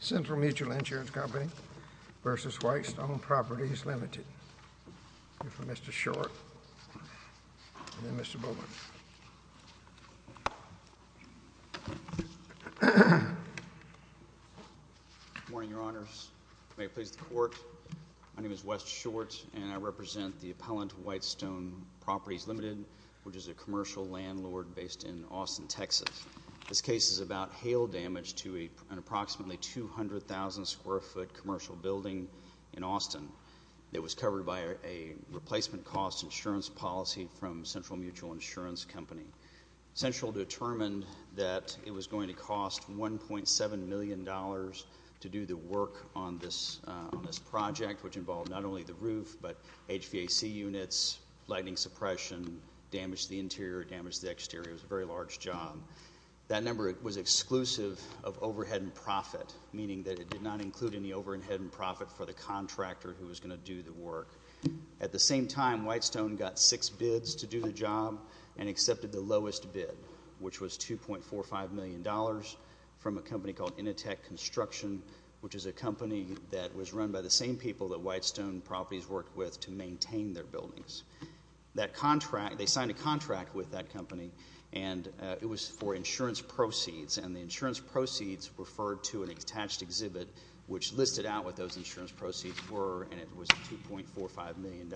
Central Mutual Insurance Company v. White Stone Properties Ltd. Mr. Short and then Mr. Bowman. Good morning, Your Honors. May it please the Court. My name is Wes Short and I represent the appellant, White Stone Properties Ltd., which is a commercial landlord based in Austin, Texas. This case is about hail damage to an approximately 200,000 square foot commercial building in Austin that was covered by a replacement cost insurance policy from Central Mutual Insurance Company. Central determined that it was going to cost $1.7 million to do the work on this project, which involved not only the roof but HVAC units, lighting suppression, damage to the interior, damage to the exterior. It was a very large job. That number was exclusive of overhead and profit, meaning that it did not include any overhead and profit for the contractor who was going to do the work. At the same time, White Stone got six bids to do the job and accepted the lowest bid, which was $2.45 million from a company called Inateck Construction, which is a company that was run by the same people that White Stone Properties worked with to maintain their buildings. They signed a contract with that company, and it was for insurance proceeds, and the insurance proceeds referred to an attached exhibit which listed out what those insurance proceeds were, and it was $2.45 million.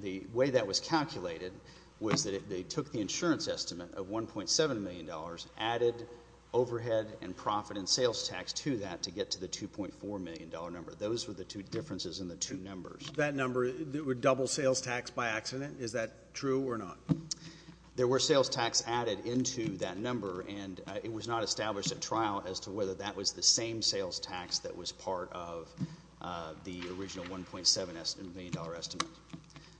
The way that was calculated was that they took the insurance estimate of $1.7 million, added overhead and profit and sales tax to that to get to the $2.4 million number. Those were the two differences in the two numbers. That number would double sales tax by accident. Is that true or not? There were sales tax added into that number, and it was not established at trial as to whether that was the same sales tax that was part of the original $1.7 million estimate.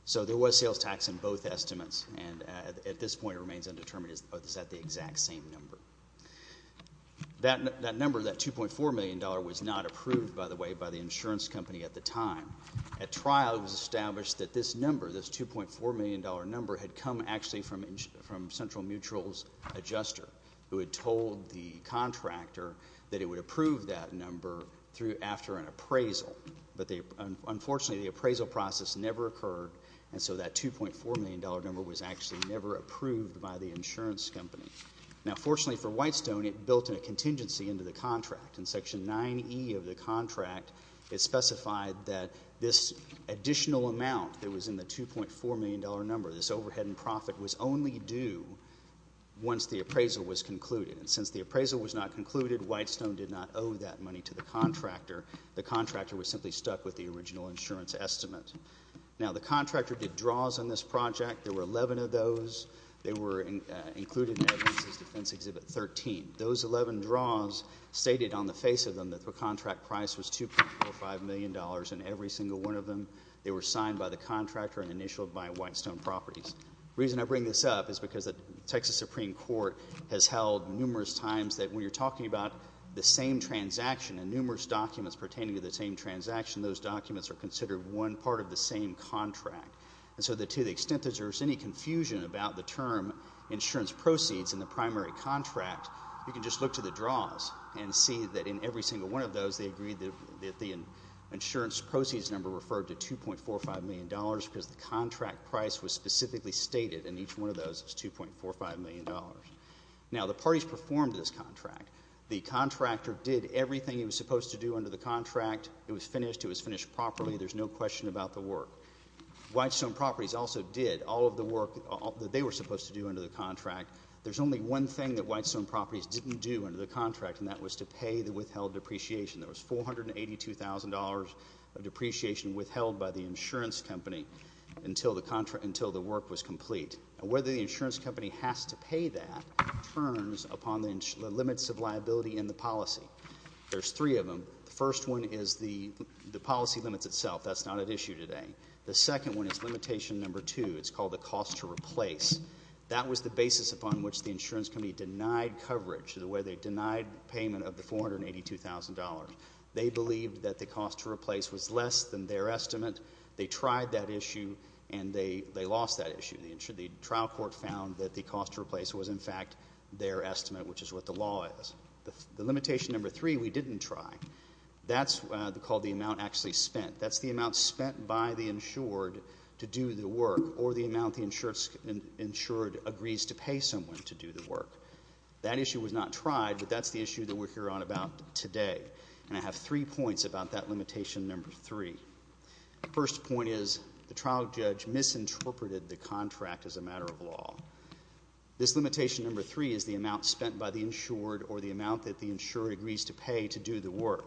So there was sales tax in both estimates, and at this point it remains undetermined is that the exact same number. That number, that $2.4 million was not approved, by the way, by the insurance company at the time. At trial, it was established that this number, this $2.4 million number, had come actually from Central Mutual's adjuster, who had told the contractor that it would approve that number after an appraisal, but unfortunately the appraisal process never occurred, and so that $2.4 million number was actually never approved by the insurance company. Now, fortunately for Whitestone, it built a contingency into the contract. In Section 9E of the contract, it specified that this additional amount that was in the $2.4 million number, this overhead and profit, was only due once the appraisal was concluded, and since the appraisal was not concluded, Whitestone did not owe that money to the contractor. The contractor was simply stuck with the original insurance estimate. Now, the contractor did draws on this project. There were 11 of those. They were included in Edwin's Defense Exhibit 13. Those 11 draws stated on the face of them that the contract price was $2.45 million, and every single one of them, they were signed by the contractor and initialed by Whitestone Properties. The reason I bring this up is because the Texas Supreme Court has held numerous times that when you're talking about the same transaction and numerous documents pertaining to the same transaction, those documents are considered one part of the same contract. And so to the extent that there's any confusion about the term insurance proceeds in the primary contract, you can just look to the draws and see that in every single one of those, they agreed that the insurance proceeds number referred to $2.45 million because the contract price was specifically stated in each one of those as $2.45 million. Now, the parties performed this contract. The contractor did everything he was supposed to do under the contract. It was finished. It was finished properly. There's no question about the work. Whitestone Properties also did all of the work that they were supposed to do under the contract. There's only one thing that Whitestone Properties didn't do under the contract, and that was to pay the withheld depreciation. There was $482,000 of depreciation withheld by the insurance company until the work was complete. Now, whether the insurance company has to pay that turns upon the limits of liability in the policy. There's three of them. The first one is the policy limits itself. That's not at issue today. The second one is limitation number two. It's called the cost to replace. That was the basis upon which the insurance company denied coverage, the way they denied payment of the $482,000. They believed that the cost to replace was less than their estimate. They tried that issue, and they lost that issue. The trial court found that the cost to replace was, in fact, their estimate, which is what the law is. The limitation number three we didn't try. That's called the amount actually spent. That's the amount spent by the insured to do the work or the amount the insured agrees to pay someone to do the work. That issue was not tried, but that's the issue that we're here on about today. And I have three points about that limitation number three. The first point is the trial judge misinterpreted the contract as a matter of law. This limitation number three is the amount spent by the insured or the amount that the insured agrees to pay to do the work.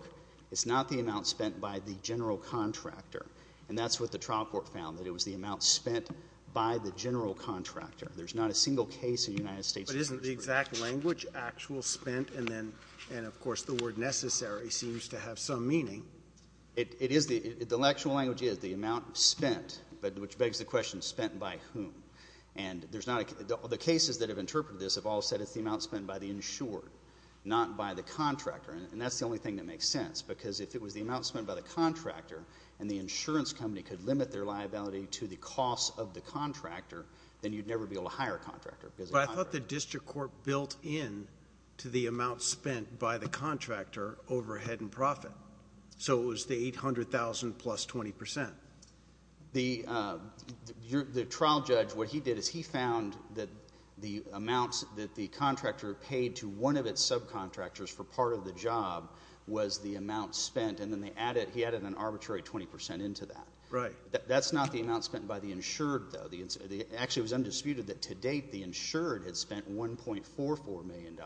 It's not the amount spent by the general contractor. And that's what the trial court found, that it was the amount spent by the general contractor. There's not a single case in the United States that's misinterpreted. But isn't the exact language actual spent? And then, of course, the word necessary seems to have some meaning. It is. The actual language is the amount spent, which begs the question spent by whom. And there's not a – the cases that have interpreted this have all said it's the amount spent by the insured, not by the contractor. And that's the only thing that makes sense because if it was the amount spent by the contractor and the insurance company could limit their liability to the cost of the contractor, then you'd never be able to hire a contractor. But I thought the district court built in to the amount spent by the contractor overhead and profit. So it was the $800,000 plus 20%. The trial judge, what he did is he found that the amounts that the contractor paid to one of its subcontractors for part of the job was the amount spent. And then they added – he added an arbitrary 20% into that. Right. That's not the amount spent by the insured, though. Actually, it was undisputed that to date the insured had spent $1.44 million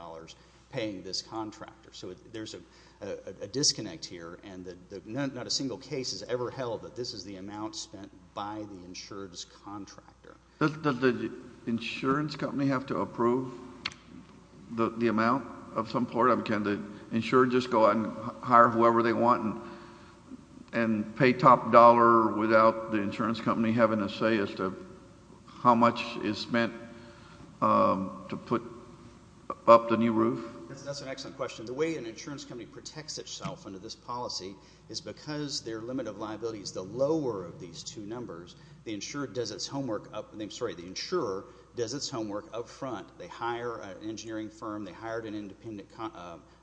paying this contractor. So there's a disconnect here, and not a single case has ever held that this is the amount spent by the insured's contractor. Does the insurance company have to approve the amount of some part of it? Can the insured just go out and hire whoever they want and pay top dollar without the insurance company having a say as to how much is spent to put up the new roof? That's an excellent question. The way an insurance company protects itself under this policy is because their limit of liability is the lower of these two numbers. The insured does its homework – I'm sorry, the insurer does its homework up front. They hire an engineering firm. They hired an independent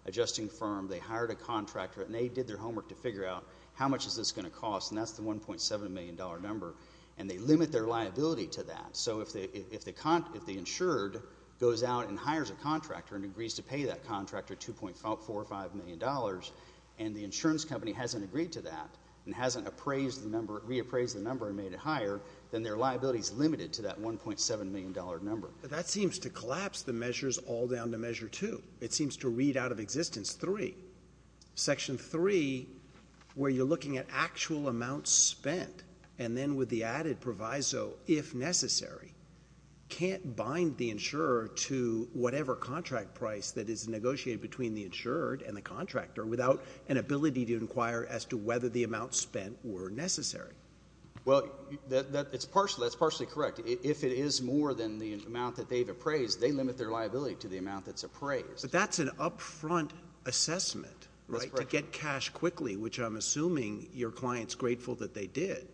adjusting firm. They hired a contractor, and they did their homework to figure out how much is this going to cost, and that's the $1.7 million number. And they limit their liability to that. So if the insured goes out and hires a contractor and agrees to pay that contractor $2.45 million, and the insurance company hasn't agreed to that and hasn't reappraised the number and made it higher, then their liability is limited to that $1.7 million number. But that seems to collapse the measures all down to measure two. It seems to read out of existence three. Section three, where you're looking at actual amounts spent, and then with the added proviso if necessary, can't bind the insurer to whatever contract price that is negotiated between the insured and the contractor without an ability to inquire as to whether the amounts spent were necessary. Well, that's partially correct. If it is more than the amount that they've appraised, they limit their liability to the amount that's appraised. But that's an upfront assessment, right, to get cash quickly, which I'm assuming your client's grateful that they did.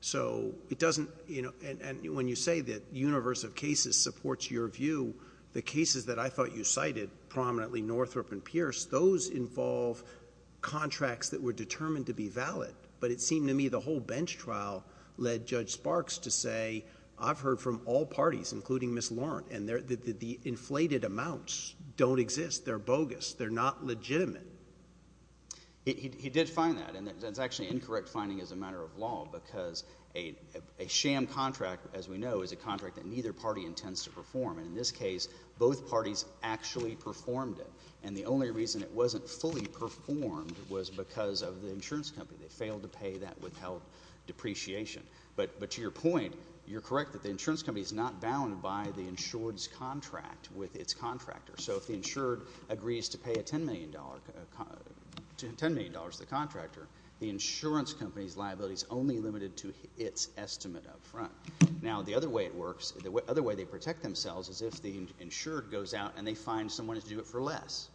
So it doesn't, you know, and when you say that the universe of cases supports your view, the cases that I thought you cited, prominently Northrop and Pierce, those involve contracts that were determined to be valid. But it seemed to me the whole bench trial led Judge Sparks to say, I've heard from all parties, including Ms. Laurent, and the inflated amounts don't exist. They're bogus. They're not legitimate. He did find that. And that's actually incorrect finding as a matter of law because a sham contract, as we know, is a contract that neither party intends to perform. And in this case, both parties actually performed it. And the only reason it wasn't fully performed was because of the insurance company. They failed to pay that withheld depreciation. But to your point, you're correct that the insurance company is not bound by the insured's contract with its contractor. So if the insured agrees to pay $10 million to the contractor, the insurance company's liability is only limited to its estimate up front. Now, the other way it works, the other way they protect themselves, is if the insured goes out and they find someone to do it for less.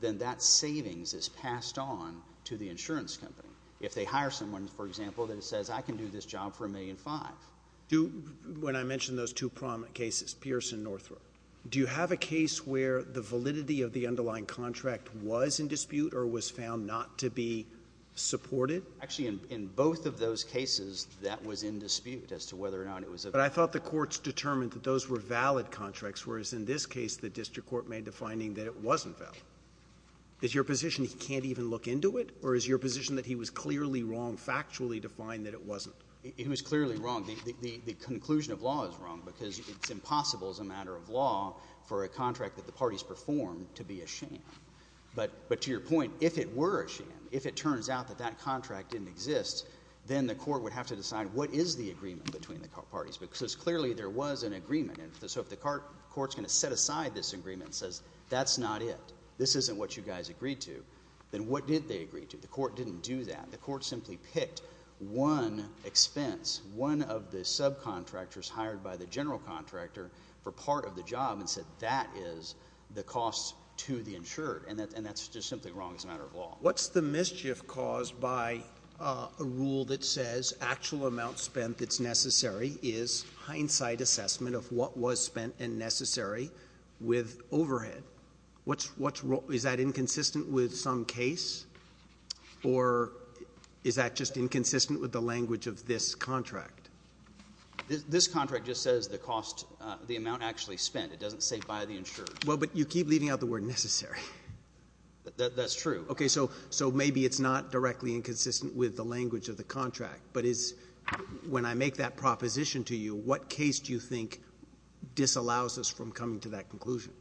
Then that savings is passed on to the insurance company. If they hire someone, for example, that says, I can do this job for $1.5 million. When I mention those two prominent cases, Pierce and Northrop, do you have a case where the validity of the underlying contract was in dispute or was found not to be supported? Actually, in both of those cases, that was in dispute as to whether or not it was. But I thought the courts determined that those were valid contracts, whereas in this case the district court made the finding that it wasn't valid. Is your position he can't even look into it? Or is your position that he was clearly wrong factually to find that it wasn't? He was clearly wrong. The conclusion of law is wrong because it's impossible as a matter of law for a contract that the parties performed to be a sham. But to your point, if it were a sham, if it turns out that that contract didn't exist, then the court would have to decide what is the agreement between the parties. Because clearly there was an agreement. So if the court is going to set aside this agreement and says that's not it, this isn't what you guys agreed to, then what did they agree to? The court didn't do that. The court simply picked one expense, one of the subcontractors hired by the general contractor for part of the job and said that is the cost to the insured. What's the mischief caused by a rule that says actual amount spent that's necessary is hindsight assessment of what was spent and necessary with overhead? Is that inconsistent with some case? Or is that just inconsistent with the language of this contract? This contract just says the cost, the amount actually spent. It doesn't say by the insured. Well, but you keep leaving out the word necessary. That's true. Okay, so maybe it's not directly inconsistent with the language of the contract. But when I make that proposition to you, what case do you think disallows us from coming to that conclusion?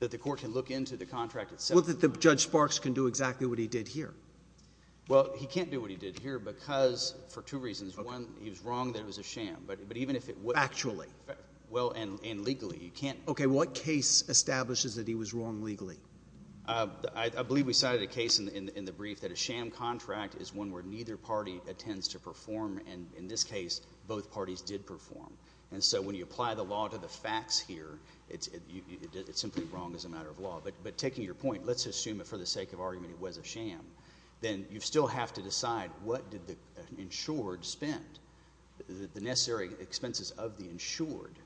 That the court can look into the contract itself. Well, that Judge Sparks can do exactly what he did here. Well, he can't do what he did here because for two reasons. One, he was wrong that it was a sham. But even if it was. Actually. Well, and legally. Okay, what case establishes that he was wrong legally? I believe we cited a case in the brief that a sham contract is one where neither party attends to perform. And in this case, both parties did perform. And so when you apply the law to the facts here, it's simply wrong as a matter of law. But taking your point, let's assume that for the sake of argument it was a sham. Then you still have to decide what did the insured spend. The necessary expenses of the insured,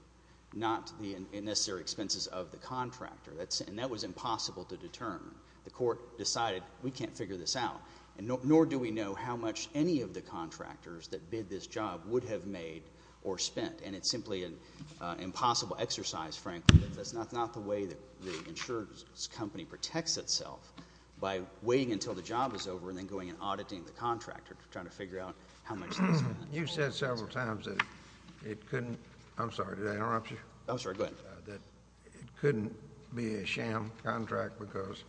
not the necessary expenses of the contractor. And that was impossible to determine. The court decided we can't figure this out. Nor do we know how much any of the contractors that bid this job would have made or spent. And it's simply an impossible exercise, frankly. That's not the way that the insured's company protects itself by waiting until the job is over and then going and auditing the contractor to try to figure out how much this is. You said several times that it couldn't. I'm sorry, go ahead. That it couldn't be a sham contract because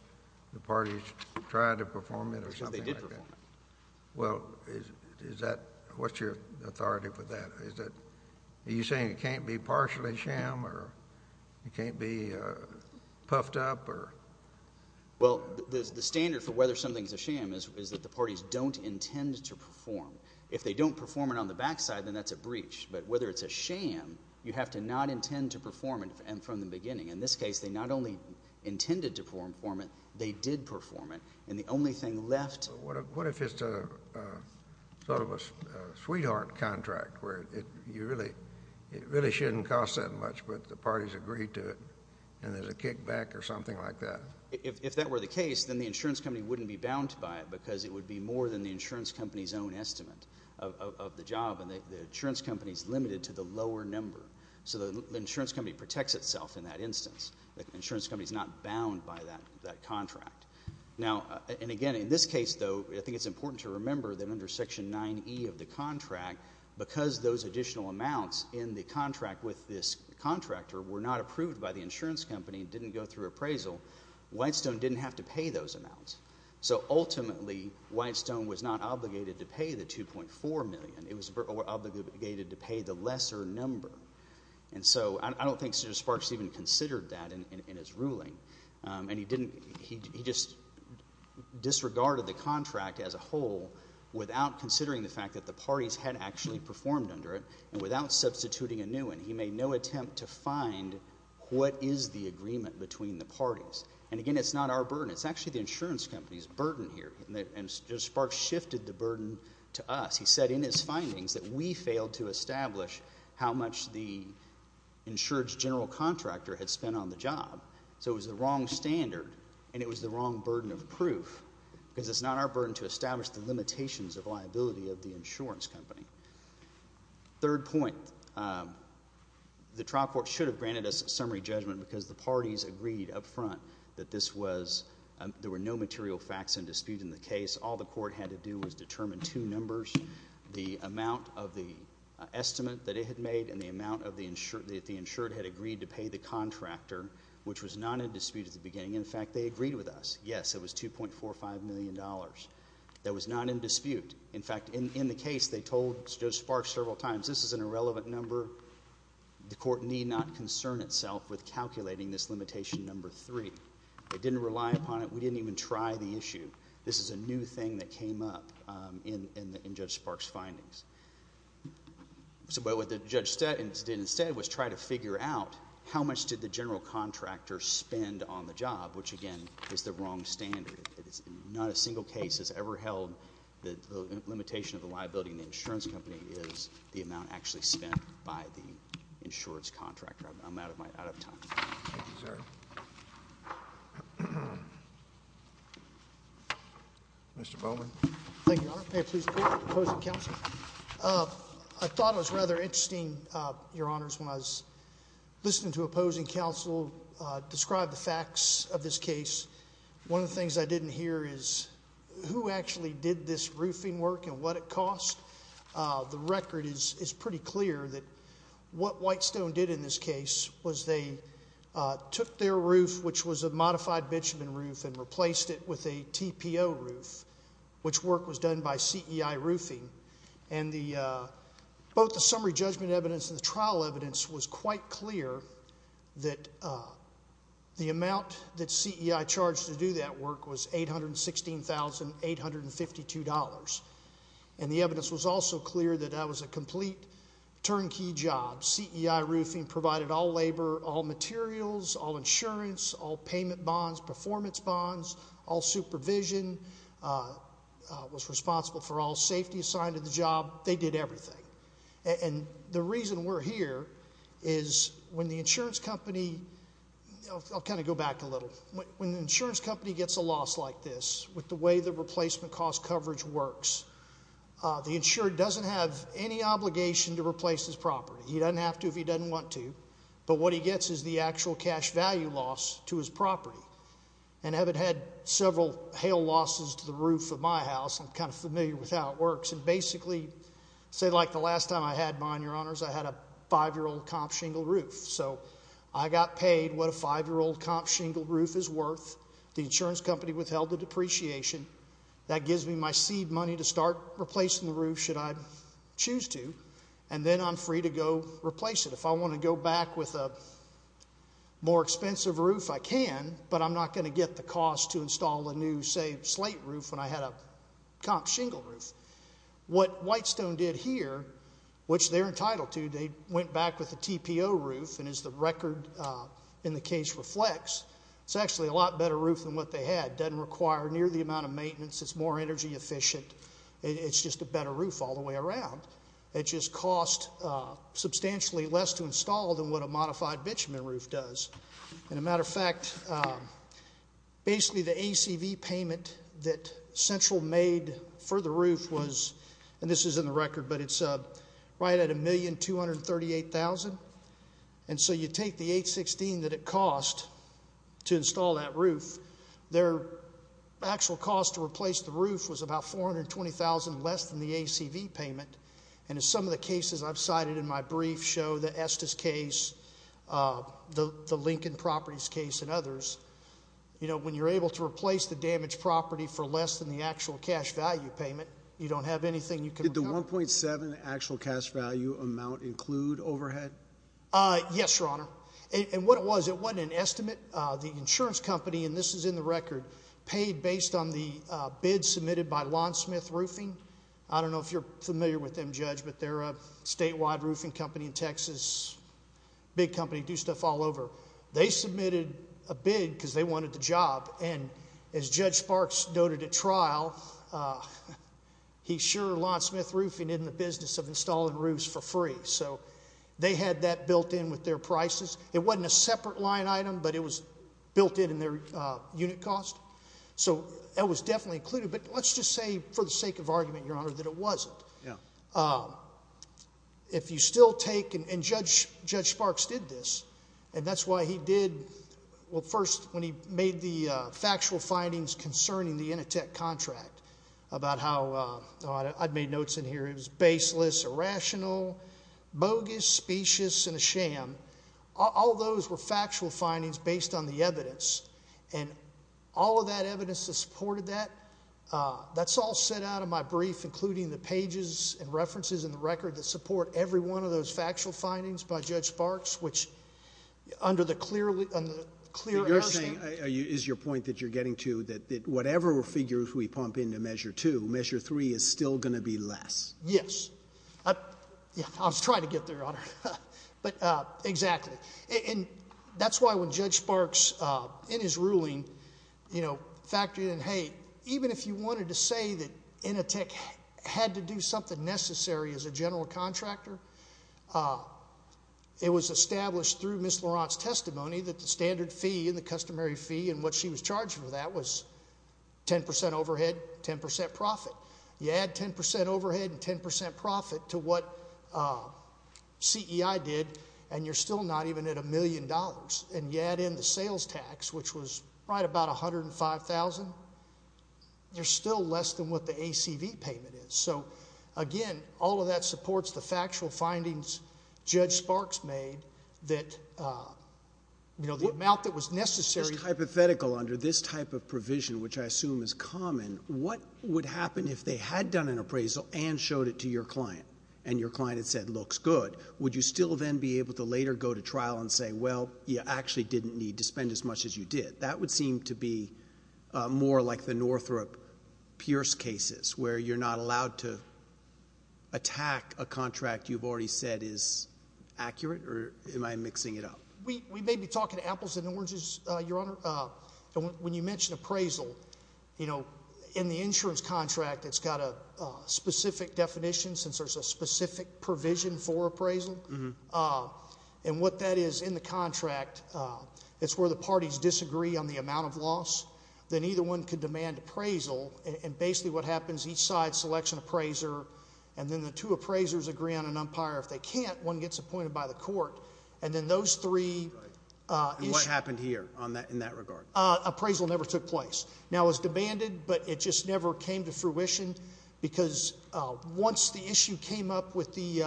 the parties tried to perform it or something like that. Because they did perform it. Well, what's your authority with that? Are you saying it can't be partially sham or it can't be puffed up? Well, the standard for whether something's a sham is that the parties don't intend to perform. If they don't perform it on the back side, then that's a breach. But whether it's a sham, you have to not intend to perform it from the beginning. In this case, they not only intended to perform it, they did perform it. And the only thing left. What if it's sort of a sweetheart contract where it really shouldn't cost that much, but the parties agreed to it and there's a kickback or something like that? If that were the case, then the insurance company wouldn't be bound to buy it because it would be more than the insurance company's own estimate of the job. And the insurance company's limited to the lower number. So the insurance company protects itself in that instance. The insurance company's not bound by that contract. Now, and again, in this case, though, I think it's important to remember that under Section 9E of the contract, because those additional amounts in the contract with this contractor were not approved by the insurance company and didn't go through appraisal, Whitestone didn't have to pay those amounts. So ultimately, Whitestone was not obligated to pay the $2.4 million. It was obligated to pay the lesser number. And so I don't think Judge Sparks even considered that in his ruling. And he just disregarded the contract as a whole without considering the fact that the parties had actually performed under it and without substituting a new one. He made no attempt to find what is the agreement between the parties. And, again, it's not our burden. It's actually the insurance company's burden here. And Judge Sparks shifted the burden to us. He said in his findings that we failed to establish how much the insured's general contractor had spent on the job. So it was the wrong standard, and it was the wrong burden of proof, because it's not our burden to establish the limitations of liability of the insurance company. Third point, the trial court should have granted us summary judgment because the parties agreed up front that this was – there were no material facts in dispute in the case. All the court had to do was determine two numbers, the amount of the estimate that it had made and the amount that the insured had agreed to pay the contractor, which was not in dispute at the beginning. In fact, they agreed with us. Yes, it was $2.45 million. That was not in dispute. In fact, in the case, they told Judge Sparks several times, this is an irrelevant number. The court need not concern itself with calculating this limitation number three. They didn't rely upon it. We didn't even try the issue. This is a new thing that came up in Judge Sparks' findings. But what the judge did instead was try to figure out how much did the general contractor spend on the job, which, again, is the wrong standard. Not a single case has ever held that the limitation of the liability in the insurance company is the amount actually spent by the insured's contractor. I'm out of time. Thank you, sir. Mr. Bowman. Thank you, Your Honor. I thought it was rather interesting, Your Honors, when I was listening to opposing counsel describe the facts of this case. One of the things I didn't hear is who actually did this roofing work and what it cost. The record is pretty clear that what Whitestone did in this case was they took their roof, which was a modified bitumen roof, and replaced it with a TPO roof, which work was done by CEI Roofing. And both the summary judgment evidence and the trial evidence was quite clear that the amount that CEI charged to do that work was $816,852. And the evidence was also clear that that was a complete turnkey job. CEI Roofing provided all labor, all materials, all insurance, all payment bonds, performance bonds, all supervision, was responsible for all safety assigned to the job. They did everything. And the reason we're here is when the insurance company – I'll kind of go back a little. When the insurance company gets a loss like this, with the way the replacement cost coverage works, the insurer doesn't have any obligation to replace his property. He doesn't have to if he doesn't want to. But what he gets is the actual cash value loss to his property. And I haven't had several hail losses to the roof of my house. I'm kind of familiar with how it works. And basically, say like the last time I had mine, Your Honors, I had a five-year-old comp shingle roof. So I got paid what a five-year-old comp shingle roof is worth. The insurance company withheld the depreciation. That gives me my seed money to start replacing the roof should I choose to. And then I'm free to go replace it. If I want to go back with a more expensive roof, I can, but I'm not going to get the cost to install a new, say, slate roof when I had a comp shingle roof. What Whitestone did here, which they're entitled to, they went back with a TPO roof, and as the record in the case reflects, it's actually a lot better roof than what they had. It doesn't require near the amount of maintenance. It's more energy efficient. It's just a better roof all the way around. It just costs substantially less to install than what a modified bitumen roof does. As a matter of fact, basically the ACV payment that Central made for the roof was, and this is in the record, but it's right at $1,238,000. And so you take the $816,000 that it cost to install that roof, their actual cost to replace the roof was about $420,000 less than the ACV payment. And as some of the cases I've cited in my brief show, the Estes case, the Lincoln Properties case and others, when you're able to replace the damaged property for less than the actual cash value payment, you don't have anything you can recover. Did the 1.7 actual cash value amount include overhead? Yes, Your Honor. And what it was, it wasn't an estimate. The insurance company, and this is in the record, paid based on the bid submitted by Lawn Smith Roofing. I don't know if you're familiar with them, Judge, but they're a statewide roofing company in Texas, big company, do stuff all over. They submitted a bid because they wanted the job. And as Judge Sparks noted at trial, he sure Lawn Smith Roofing isn't in the business of installing roofs for free. So they had that built in with their prices. It wasn't a separate line item, but it was built in in their unit cost. So that was definitely included. But let's just say for the sake of argument, Your Honor, that it wasn't. If you still take, and Judge Sparks did this, and that's why he did, well, first, when he made the factual findings concerning the Initech contract about how, I've made notes in here, it was baseless, irrational, bogus, specious, and a sham. And all those were factual findings based on the evidence. And all of that evidence that supported that, that's all set out in my brief, including the pages and references in the record that support every one of those factual findings by Judge Sparks, which under the clear, under the clear- You're saying, is your point that you're getting to that whatever figures we pump into Measure 2, Measure 3 is still going to be less? I was trying to get there, Your Honor. Exactly. And that's why when Judge Sparks, in his ruling, factored in, hey, even if you wanted to say that Initech had to do something necessary as a general contractor, it was established through Ms. Laurent's testimony that the standard fee and the customary fee and what she was charged for that was 10% overhead, 10% profit. You add 10% overhead and 10% profit to what CEI did, and you're still not even at a million dollars. And you add in the sales tax, which was right about $105,000, you're still less than what the ACV payment is. So, again, all of that supports the factual findings Judge Sparks made that the amount that was necessary- Hypothetically, under this type of provision, which I assume is common, what would happen if they had done an appraisal and showed it to your client, and your client had said, looks good. Would you still then be able to later go to trial and say, well, you actually didn't need to spend as much as you did? That would seem to be more like the Northrop Pierce cases, where you're not allowed to attack a contract you've already said is accurate, or am I mixing it up? We may be talking apples and oranges, Your Honor. When you mention appraisal, in the insurance contract, it's got a specific definition, since there's a specific provision for appraisal. And what that is in the contract, it's where the parties disagree on the amount of loss. Then either one could demand appraisal, and basically what happens, each side selects an appraiser, and then the two appraisers agree on an umpire. If they can't, one gets appointed by the court, and then those three issues. And what happened here in that regard? Appraisal never took place. Now, it was demanded, but it just never came to fruition, because once the issue came up with the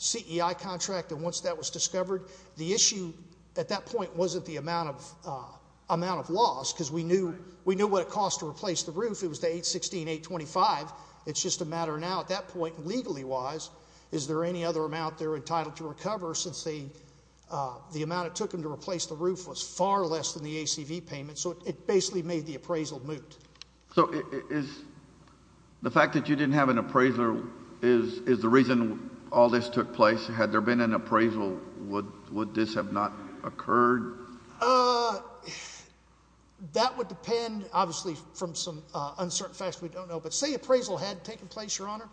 CEI contract and once that was discovered, the issue at that point wasn't the amount of loss, because we knew what it cost to replace the roof. It was the $816,825. It's just a matter now, at that point, legally-wise, is there any other amount they're entitled to recover, since the amount it took them to replace the roof was far less than the ACV payment? So it basically made the appraisal moot. So the fact that you didn't have an appraiser is the reason all this took place? Had there been an appraisal, would this have not occurred? That would depend, obviously, from some uncertain facts we don't know. But say appraisal had taken place, Your Honor,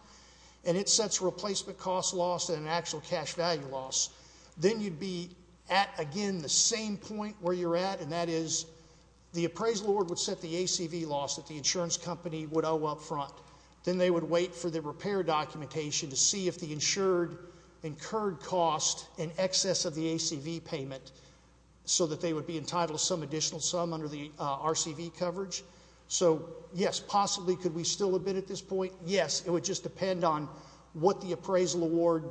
and it sets a replacement cost loss and an actual cash value loss. Then you'd be at, again, the same point where you're at, and that is the appraisal would set the ACV loss that the insurance company would owe up front. Then they would wait for the repair documentation to see if the insured incurred cost in excess of the ACV payment so that they would be entitled to some additional sum under the RCV coverage. So, yes, possibly could we still have been at this point? Yes. It would just depend on what the appraisal award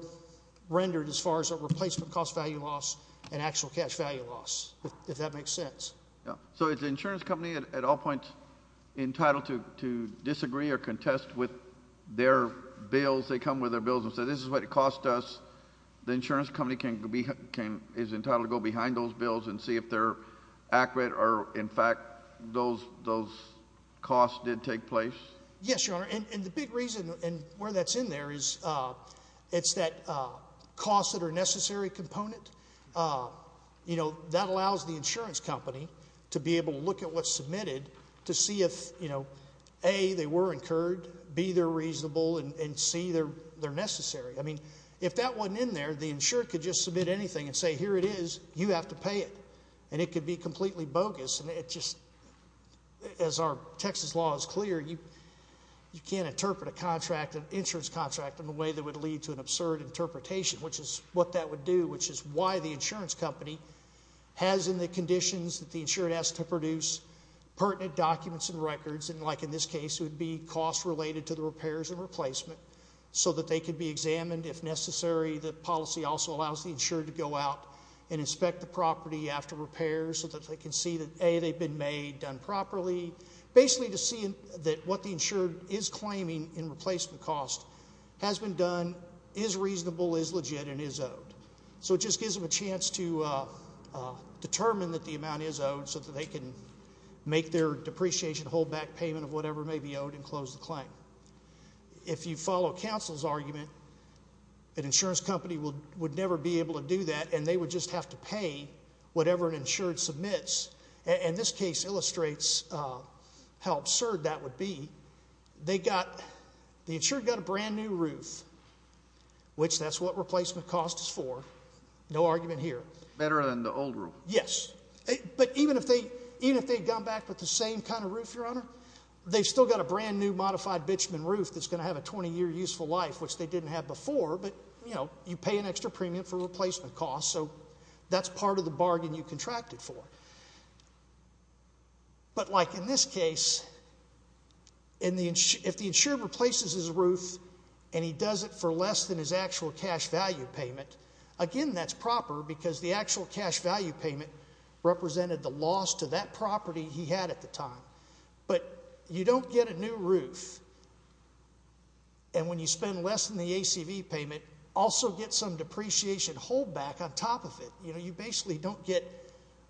rendered as far as a replacement cost value loss and actual cash value loss, if that makes sense. So if the insurance company at all points entitled to disagree or contest with their bills, they come with their bills and say this is what it cost us, the insurance company is entitled to go behind those bills and see if they're accurate or, in fact, those costs did take place? Yes, Your Honor, and the big reason and where that's in there is it's that cost that are necessary component. You know, that allows the insurance company to be able to look at what's submitted to see if, you know, A, they were incurred, B, they're reasonable, and C, they're necessary. I mean, if that wasn't in there, the insured could just submit anything and say, here it is, you have to pay it, and it could be completely bogus. And it just, as our Texas law is clear, you can't interpret a contract, an insurance contract, in a way that would lead to an absurd interpretation, which is what that would do, which is why the insurance company has in the conditions that the insured has to produce pertinent documents and records and, like in this case, it would be costs related to the repairs and replacement so that they could be examined if necessary. The policy also allows the insured to go out and inspect the property after repairs so that they can see that, A, they've been made, done properly, basically to see that what the insured is claiming in replacement costs has been done, is reasonable, is legit, and is owed. So it just gives them a chance to determine that the amount is owed so that they can make their depreciation hold back payment of whatever may be owed and close the claim. If you follow counsel's argument, an insurance company would never be able to do that and they would just have to pay whatever an insured submits. And this case illustrates how absurd that would be. They got, the insured got a brand new roof, which that's what replacement cost is for. No argument here. Better than the old roof. Yes. But even if they had gone back with the same kind of roof, Your Honor, they've still got a brand new modified bitumen roof that's going to have a 20-year useful life, which they didn't have before, but, you know, you pay an extra premium for replacement costs, so that's part of the bargain you contracted for. But like in this case, if the insured replaces his roof and he does it for less than his actual cash value payment, again, that's proper because the actual cash value payment represented the loss to that property he had at the time. But you don't get a new roof, and when you spend less than the ACV payment, also get some depreciation holdback on top of it. You know, you basically don't get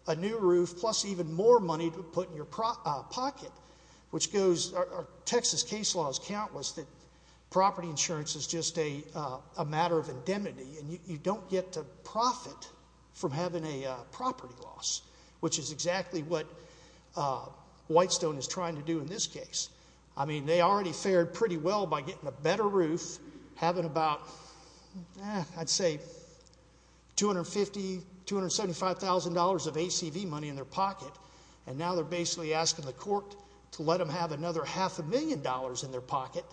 a new roof plus even more money to put in your pocket, which goes, Texas case law is countless that property insurance is just a matter of indemnity, and you don't get to profit from having a property loss, which is exactly what Whitestone is trying to do in this case. I mean, they already fared pretty well by getting a better roof, having about, I'd say, $250,000, $275,000 of ACV money in their pocket, and now they're basically asking the court to let them have another half a million dollars in their pocket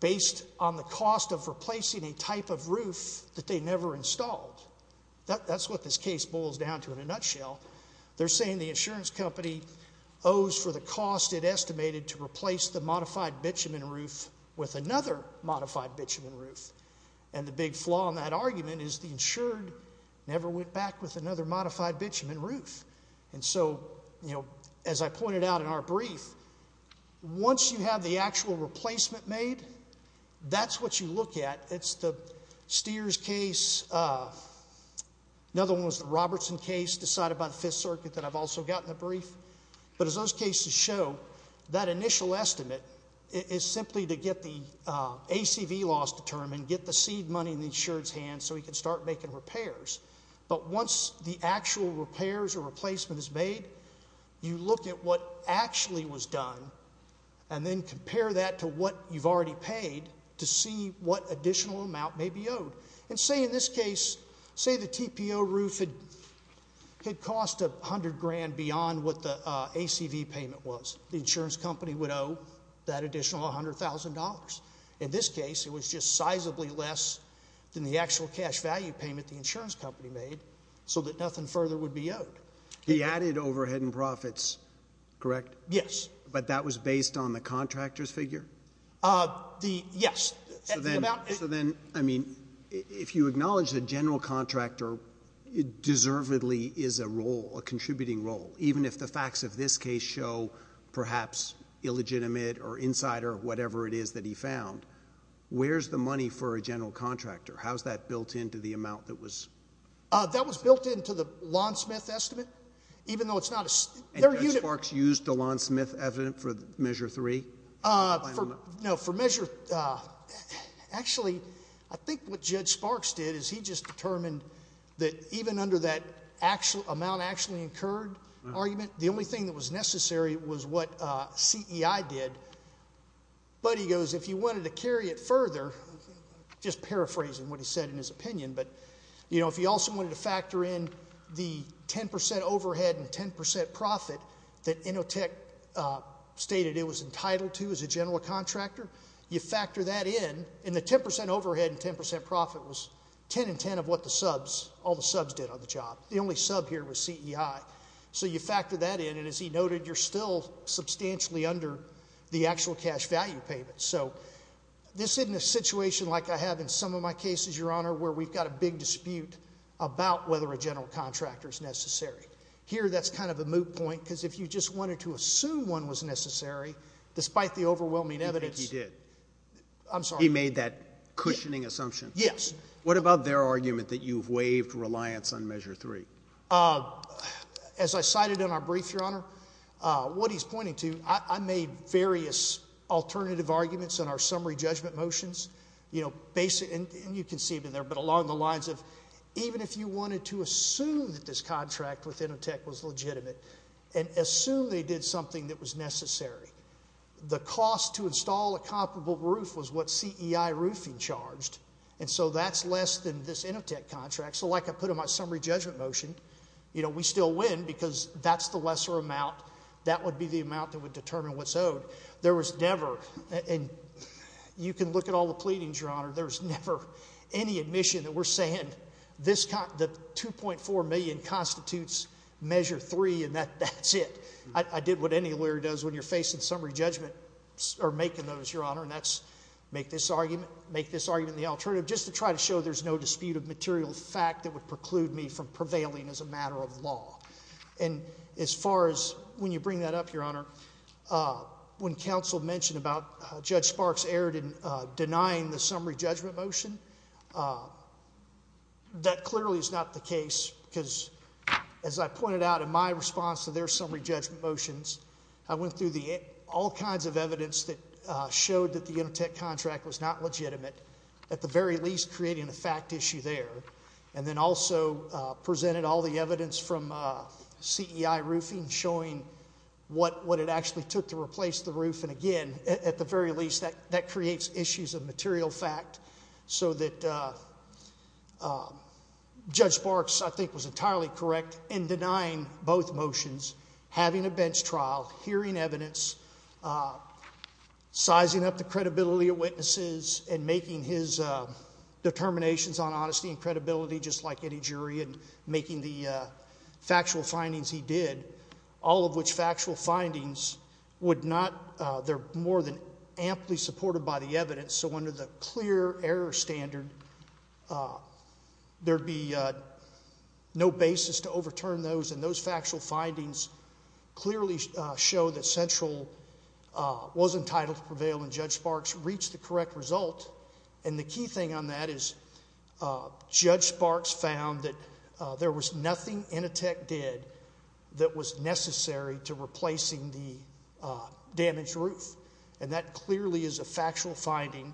based on the cost of replacing a type of roof that they never installed. That's what this case boils down to in a nutshell. They're saying the insurance company owes for the cost it estimated to replace the modified bitumen roof with another modified bitumen roof, and the big flaw in that argument is the insured never went back with another modified bitumen roof. And so, you know, as I pointed out in our brief, once you have the actual replacement made, that's what you look at. It's the Steers case. Another one was the Robertson case decided by the Fifth Circuit that I've also got in the brief. But as those cases show, that initial estimate is simply to get the ACV loss determined, get the seed money in the insured's hands so he can start making repairs. But once the actual repairs or replacement is made, you look at what actually was done and then compare that to what you've already paid to see what additional amount may be owed. And say in this case, say the TPO roof had cost $100,000 beyond what the ACV payment was. The insurance company would owe that additional $100,000. In this case, it was just sizably less than the actual cash value payment the insurance company made so that nothing further would be owed. He added overhead and profits, correct? Yes. But that was based on the contractor's figure? Yes. So then, I mean, if you acknowledge the general contractor, it deservedly is a role, a contributing role, even if the facts of this case show perhaps illegitimate or insider, whatever it is that he found. Where's the money for a general contractor? How's that built into the amount that was? That was built into the Lawn Smith estimate, even though it's not a— And Judge Sparks used the Lawn Smith evidence for Measure 3? No, for Measure—actually, I think what Judge Sparks did is he just determined that even under that amount actually incurred argument, the only thing that was necessary was what CEI did. But he goes, if you wanted to carry it further, just paraphrasing what he said in his opinion, but, you know, if you also wanted to factor in the 10% overhead and 10% profit that Innotech stated it was entitled to as a general contractor, you factor that in, and the 10% overhead and 10% profit was 10 and 10 of what the subs, all the subs did on the job. The only sub here was CEI. So you factor that in, and as he noted, you're still substantially under the actual cash value payment. So this isn't a situation like I have in some of my cases, Your Honor, where we've got a big dispute about whether a general contractor is necessary. Here, that's kind of a moot point, because if you just wanted to assume one was necessary, despite the overwhelming evidence— You think he did? I'm sorry? He made that cushioning assumption? Yes. What about their argument that you've waived reliance on Measure 3? As I cited in our brief, Your Honor, what he's pointing to, I made various alternative arguments in our summary judgment motions, you know, and you can see them there, but along the lines of even if you wanted to assume that this contract with Innotech was legitimate and assume they did something that was necessary, the cost to install a comparable roof was what CEI roofing charged, and so that's less than this Innotech contract. So like I put in my summary judgment motion, you know, we still win because that's the lesser amount. That would be the amount that would determine what's owed. There was never—and you can look at all the pleadings, Your Honor— there was never any admission that we're saying the $2.4 million constitutes Measure 3, and that's it. I did what any lawyer does when you're facing summary judgment or making those, Your Honor, and that's make this argument the alternative just to try to show there's no dispute of material fact that would preclude me from prevailing as a matter of law. And as far as when you bring that up, Your Honor, when counsel mentioned about Judge Sparks erred in denying the summary judgment motion, that clearly is not the case because, as I pointed out in my response to their summary judgment motions, I went through all kinds of evidence that showed that the Innotech contract was not legitimate, at the very least creating a fact issue there, and then also presented all the evidence from CEI roofing showing what it actually took to replace the roof, and again, at the very least, that creates issues of material fact so that Judge Sparks, I think, was entirely correct in denying both motions, having a bench trial, hearing evidence, sizing up the credibility of witnesses and making his determinations on honesty and credibility just like any jury and making the factual findings he did, all of which factual findings would not— were more than amply supported by the evidence. So under the clear error standard, there'd be no basis to overturn those, and those factual findings clearly show that Central was entitled to prevail and Judge Sparks reached the correct result. And the key thing on that is Judge Sparks found that there was nothing Innotech did that was necessary to replacing the damaged roof, and that clearly is a factual finding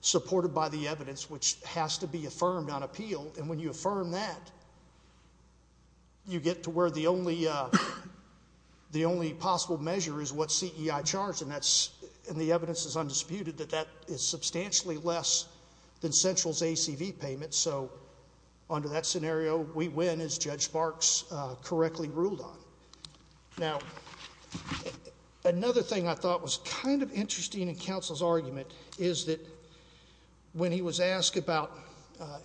supported by the evidence which has to be affirmed on appeal, and when you affirm that, you get to where the only possible measure is what CEI charged, and the evidence is undisputed that that is substantially less than Central's ACV payment, and so under that scenario, we win as Judge Sparks correctly ruled on. Now, another thing I thought was kind of interesting in counsel's argument is that when he was asked about—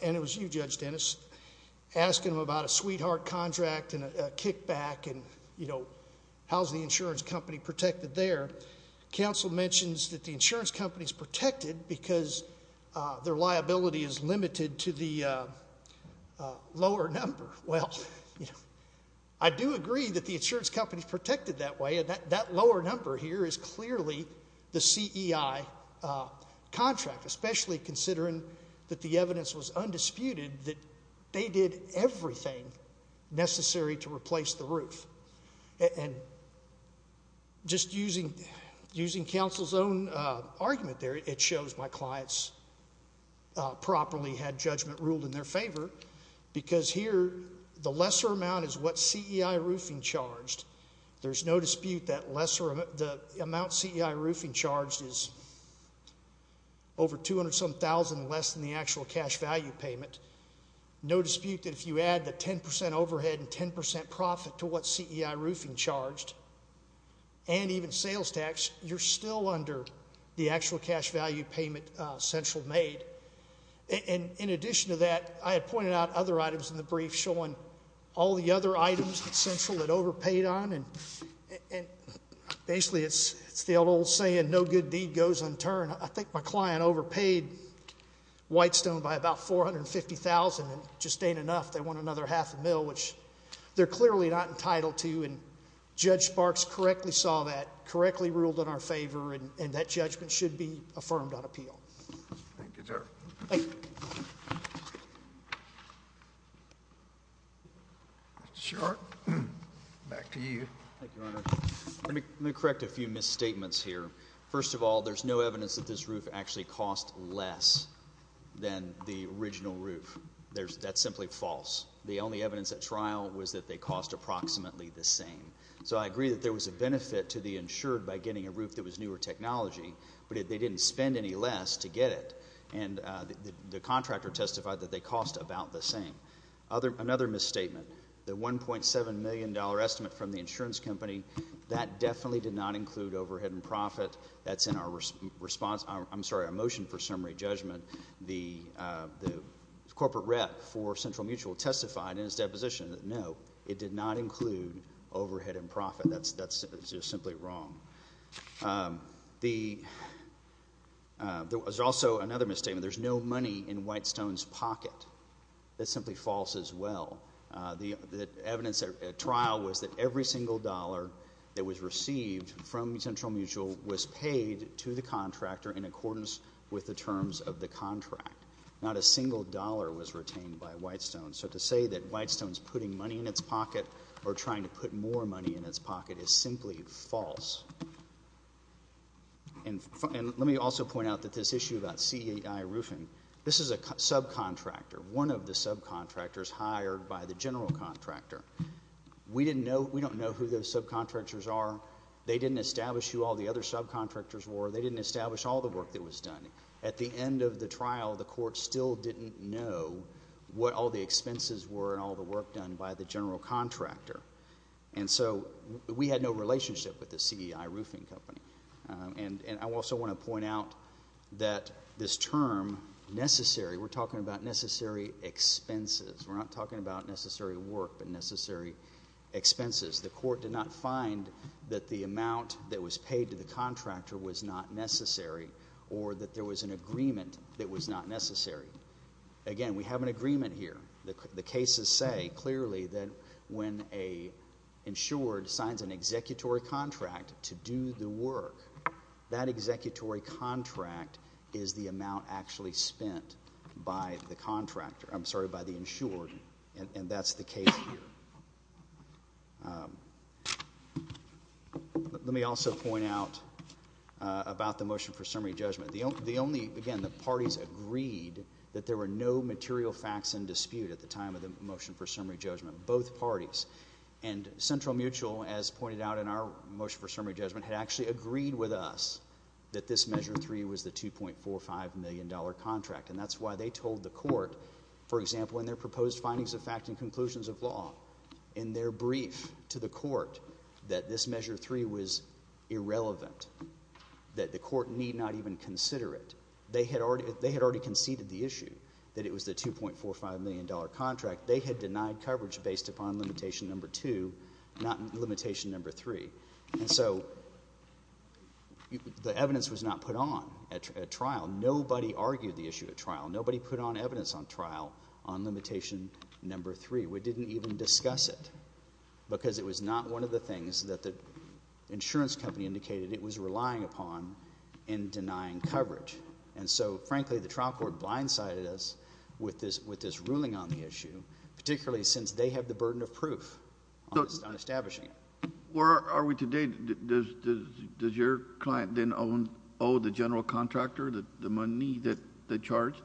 and it was you, Judge Dennis—asking him about a sweetheart contract and a kickback and, you know, how's the insurance company protected there, counsel mentions that the insurance company's protected because their liability is limited to the lower number. Well, you know, I do agree that the insurance company's protected that way, and that lower number here is clearly the CEI contract, especially considering that the evidence was undisputed that they did everything necessary to replace the roof, and just using counsel's own argument there, it shows my clients properly had judgment ruled in their favor because here the lesser amount is what CEI roofing charged. There's no dispute that the amount CEI roofing charged is over $200,000 and less than the actual cash value payment. There's no dispute that if you add the 10% overhead and 10% profit to what CEI roofing charged and even sales tax, you're still under the actual cash value payment Central made. And in addition to that, I had pointed out other items in the brief showing all the other items that Central had overpaid on, and basically it's the old saying, no good deed goes unturned. I think my client overpaid Whitestone by about $450,000 and just ain't enough. They want another half a mil, which they're clearly not entitled to, and Judge Sparks correctly saw that, correctly ruled in our favor, and that judgment should be affirmed on appeal. Thank you, sir. Thank you. Back to you. Thank you, Your Honor. Let me correct a few misstatements here. First of all, there's no evidence that this roof actually cost less than the original roof. That's simply false. The only evidence at trial was that they cost approximately the same. So I agree that there was a benefit to the insured by getting a roof that was newer technology, but they didn't spend any less to get it. And the contractor testified that they cost about the same. Another misstatement, the $1.7 million estimate from the insurance company, that definitely did not include overhead and profit. That's in our motion for summary judgment. The corporate rep for Central Mutual testified in his deposition that, no, it did not include overhead and profit. That's just simply wrong. There was also another misstatement. There's no money in Whitestone's pocket. That's simply false as well. The evidence at trial was that every single dollar that was received from Central Mutual was paid to the contractor in accordance with the terms of the contract. Not a single dollar was retained by Whitestone. So to say that Whitestone's putting money in its pocket or trying to put more money in its pocket is simply false. And let me also point out that this issue about CEI roofing, this is a subcontractor, one of the subcontractors hired by the general contractor. We don't know who those subcontractors are. They didn't establish who all the other subcontractors were. They didn't establish all the work that was done. At the end of the trial, the court still didn't know what all the expenses were and all the work done by the general contractor. And so we had no relationship with the CEI roofing company. And I also want to point out that this term, necessary, we're talking about necessary expenses. We're not talking about necessary work but necessary expenses. The court did not find that the amount that was paid to the contractor was not necessary or that there was an agreement that was not necessary. Again, we have an agreement here. The cases say clearly that when an insured signs an executory contract to do the work, that executory contract is the amount actually spent by the contractor. I'm sorry, by the insured, and that's the case here. Let me also point out about the motion for summary judgment. The only, again, the parties agreed that there were no material facts in dispute at the time of the motion for summary judgment, both parties. And Central Mutual, as pointed out in our motion for summary judgment, had actually agreed with us that this Measure 3 was the $2.45 million contract. And that's why they told the court, for example, in their proposed findings of fact and conclusions of law, in their brief to the court that this Measure 3 was irrelevant, that the court need not even consider it. They had already conceded the issue that it was the $2.45 million contract. They had denied coverage based upon limitation number 2, not limitation number 3. And so the evidence was not put on at trial. Nobody argued the issue at trial. Nobody put on evidence on trial on limitation number 3. We didn't even discuss it because it was not one of the things that the insurance company indicated it was relying upon in denying coverage. And so, frankly, the trial court blindsided us with this ruling on the issue, particularly since they have the burden of proof on establishing it. Where are we today? Does your client then owe the general contractor the money that they charged?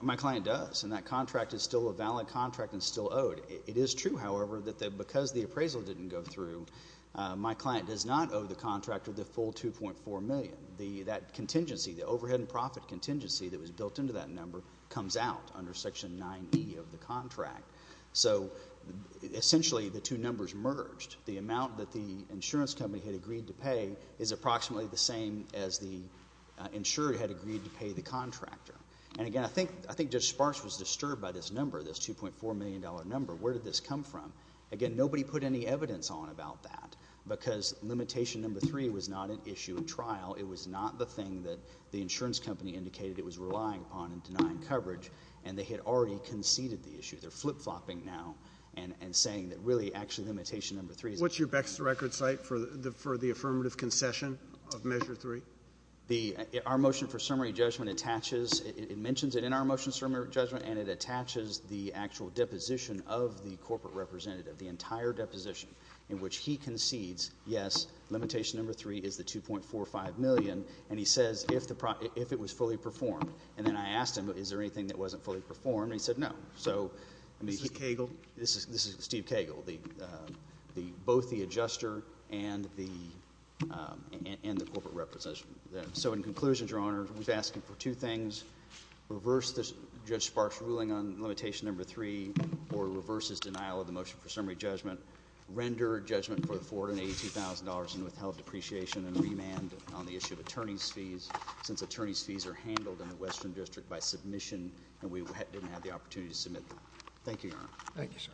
My client does, and that contract is still a valid contract and still owed. It is true, however, that because the appraisal didn't go through, my client does not owe the contractor the full $2.4 million. That contingency, the overhead and profit contingency that was built into that number, comes out under Section 9e of the contract. So essentially the two numbers merged. The amount that the insurance company had agreed to pay is approximately the same as the insurer had agreed to pay the contractor. And, again, I think Judge Sparks was disturbed by this number, this $2.4 million number. Where did this come from? Again, nobody put any evidence on about that because limitation number 3 was not an issue at trial. It was not the thing that the insurance company indicated it was relying upon in denying coverage, and they had already conceded the issue. They're flip-flopping now and saying that, really, actually limitation number 3 is an issue. What's your best record site for the affirmative concession of measure 3? Our motion for summary judgment attaches – it mentions it in our motion for summary judgment, and it attaches the actual deposition of the corporate representative, the entire deposition, in which he concedes, yes, limitation number 3 is the $2.45 million, and he says if it was fully performed. And then I asked him, is there anything that wasn't fully performed, and he said no. This is Cagle? This is Steve Cagle, both the adjuster and the corporate representative. So, in conclusion, Your Honor, we're asking for two things. Reverse Judge Sparks' ruling on limitation number 3 or reverse his denial of the motion for summary judgment. Render judgment for the $482,000 and withheld depreciation and remand on the issue of attorney's fees since attorney's fees are handled in the Western District by submission and we didn't have the opportunity to submit them. Thank you, Your Honor. Thank you, sir.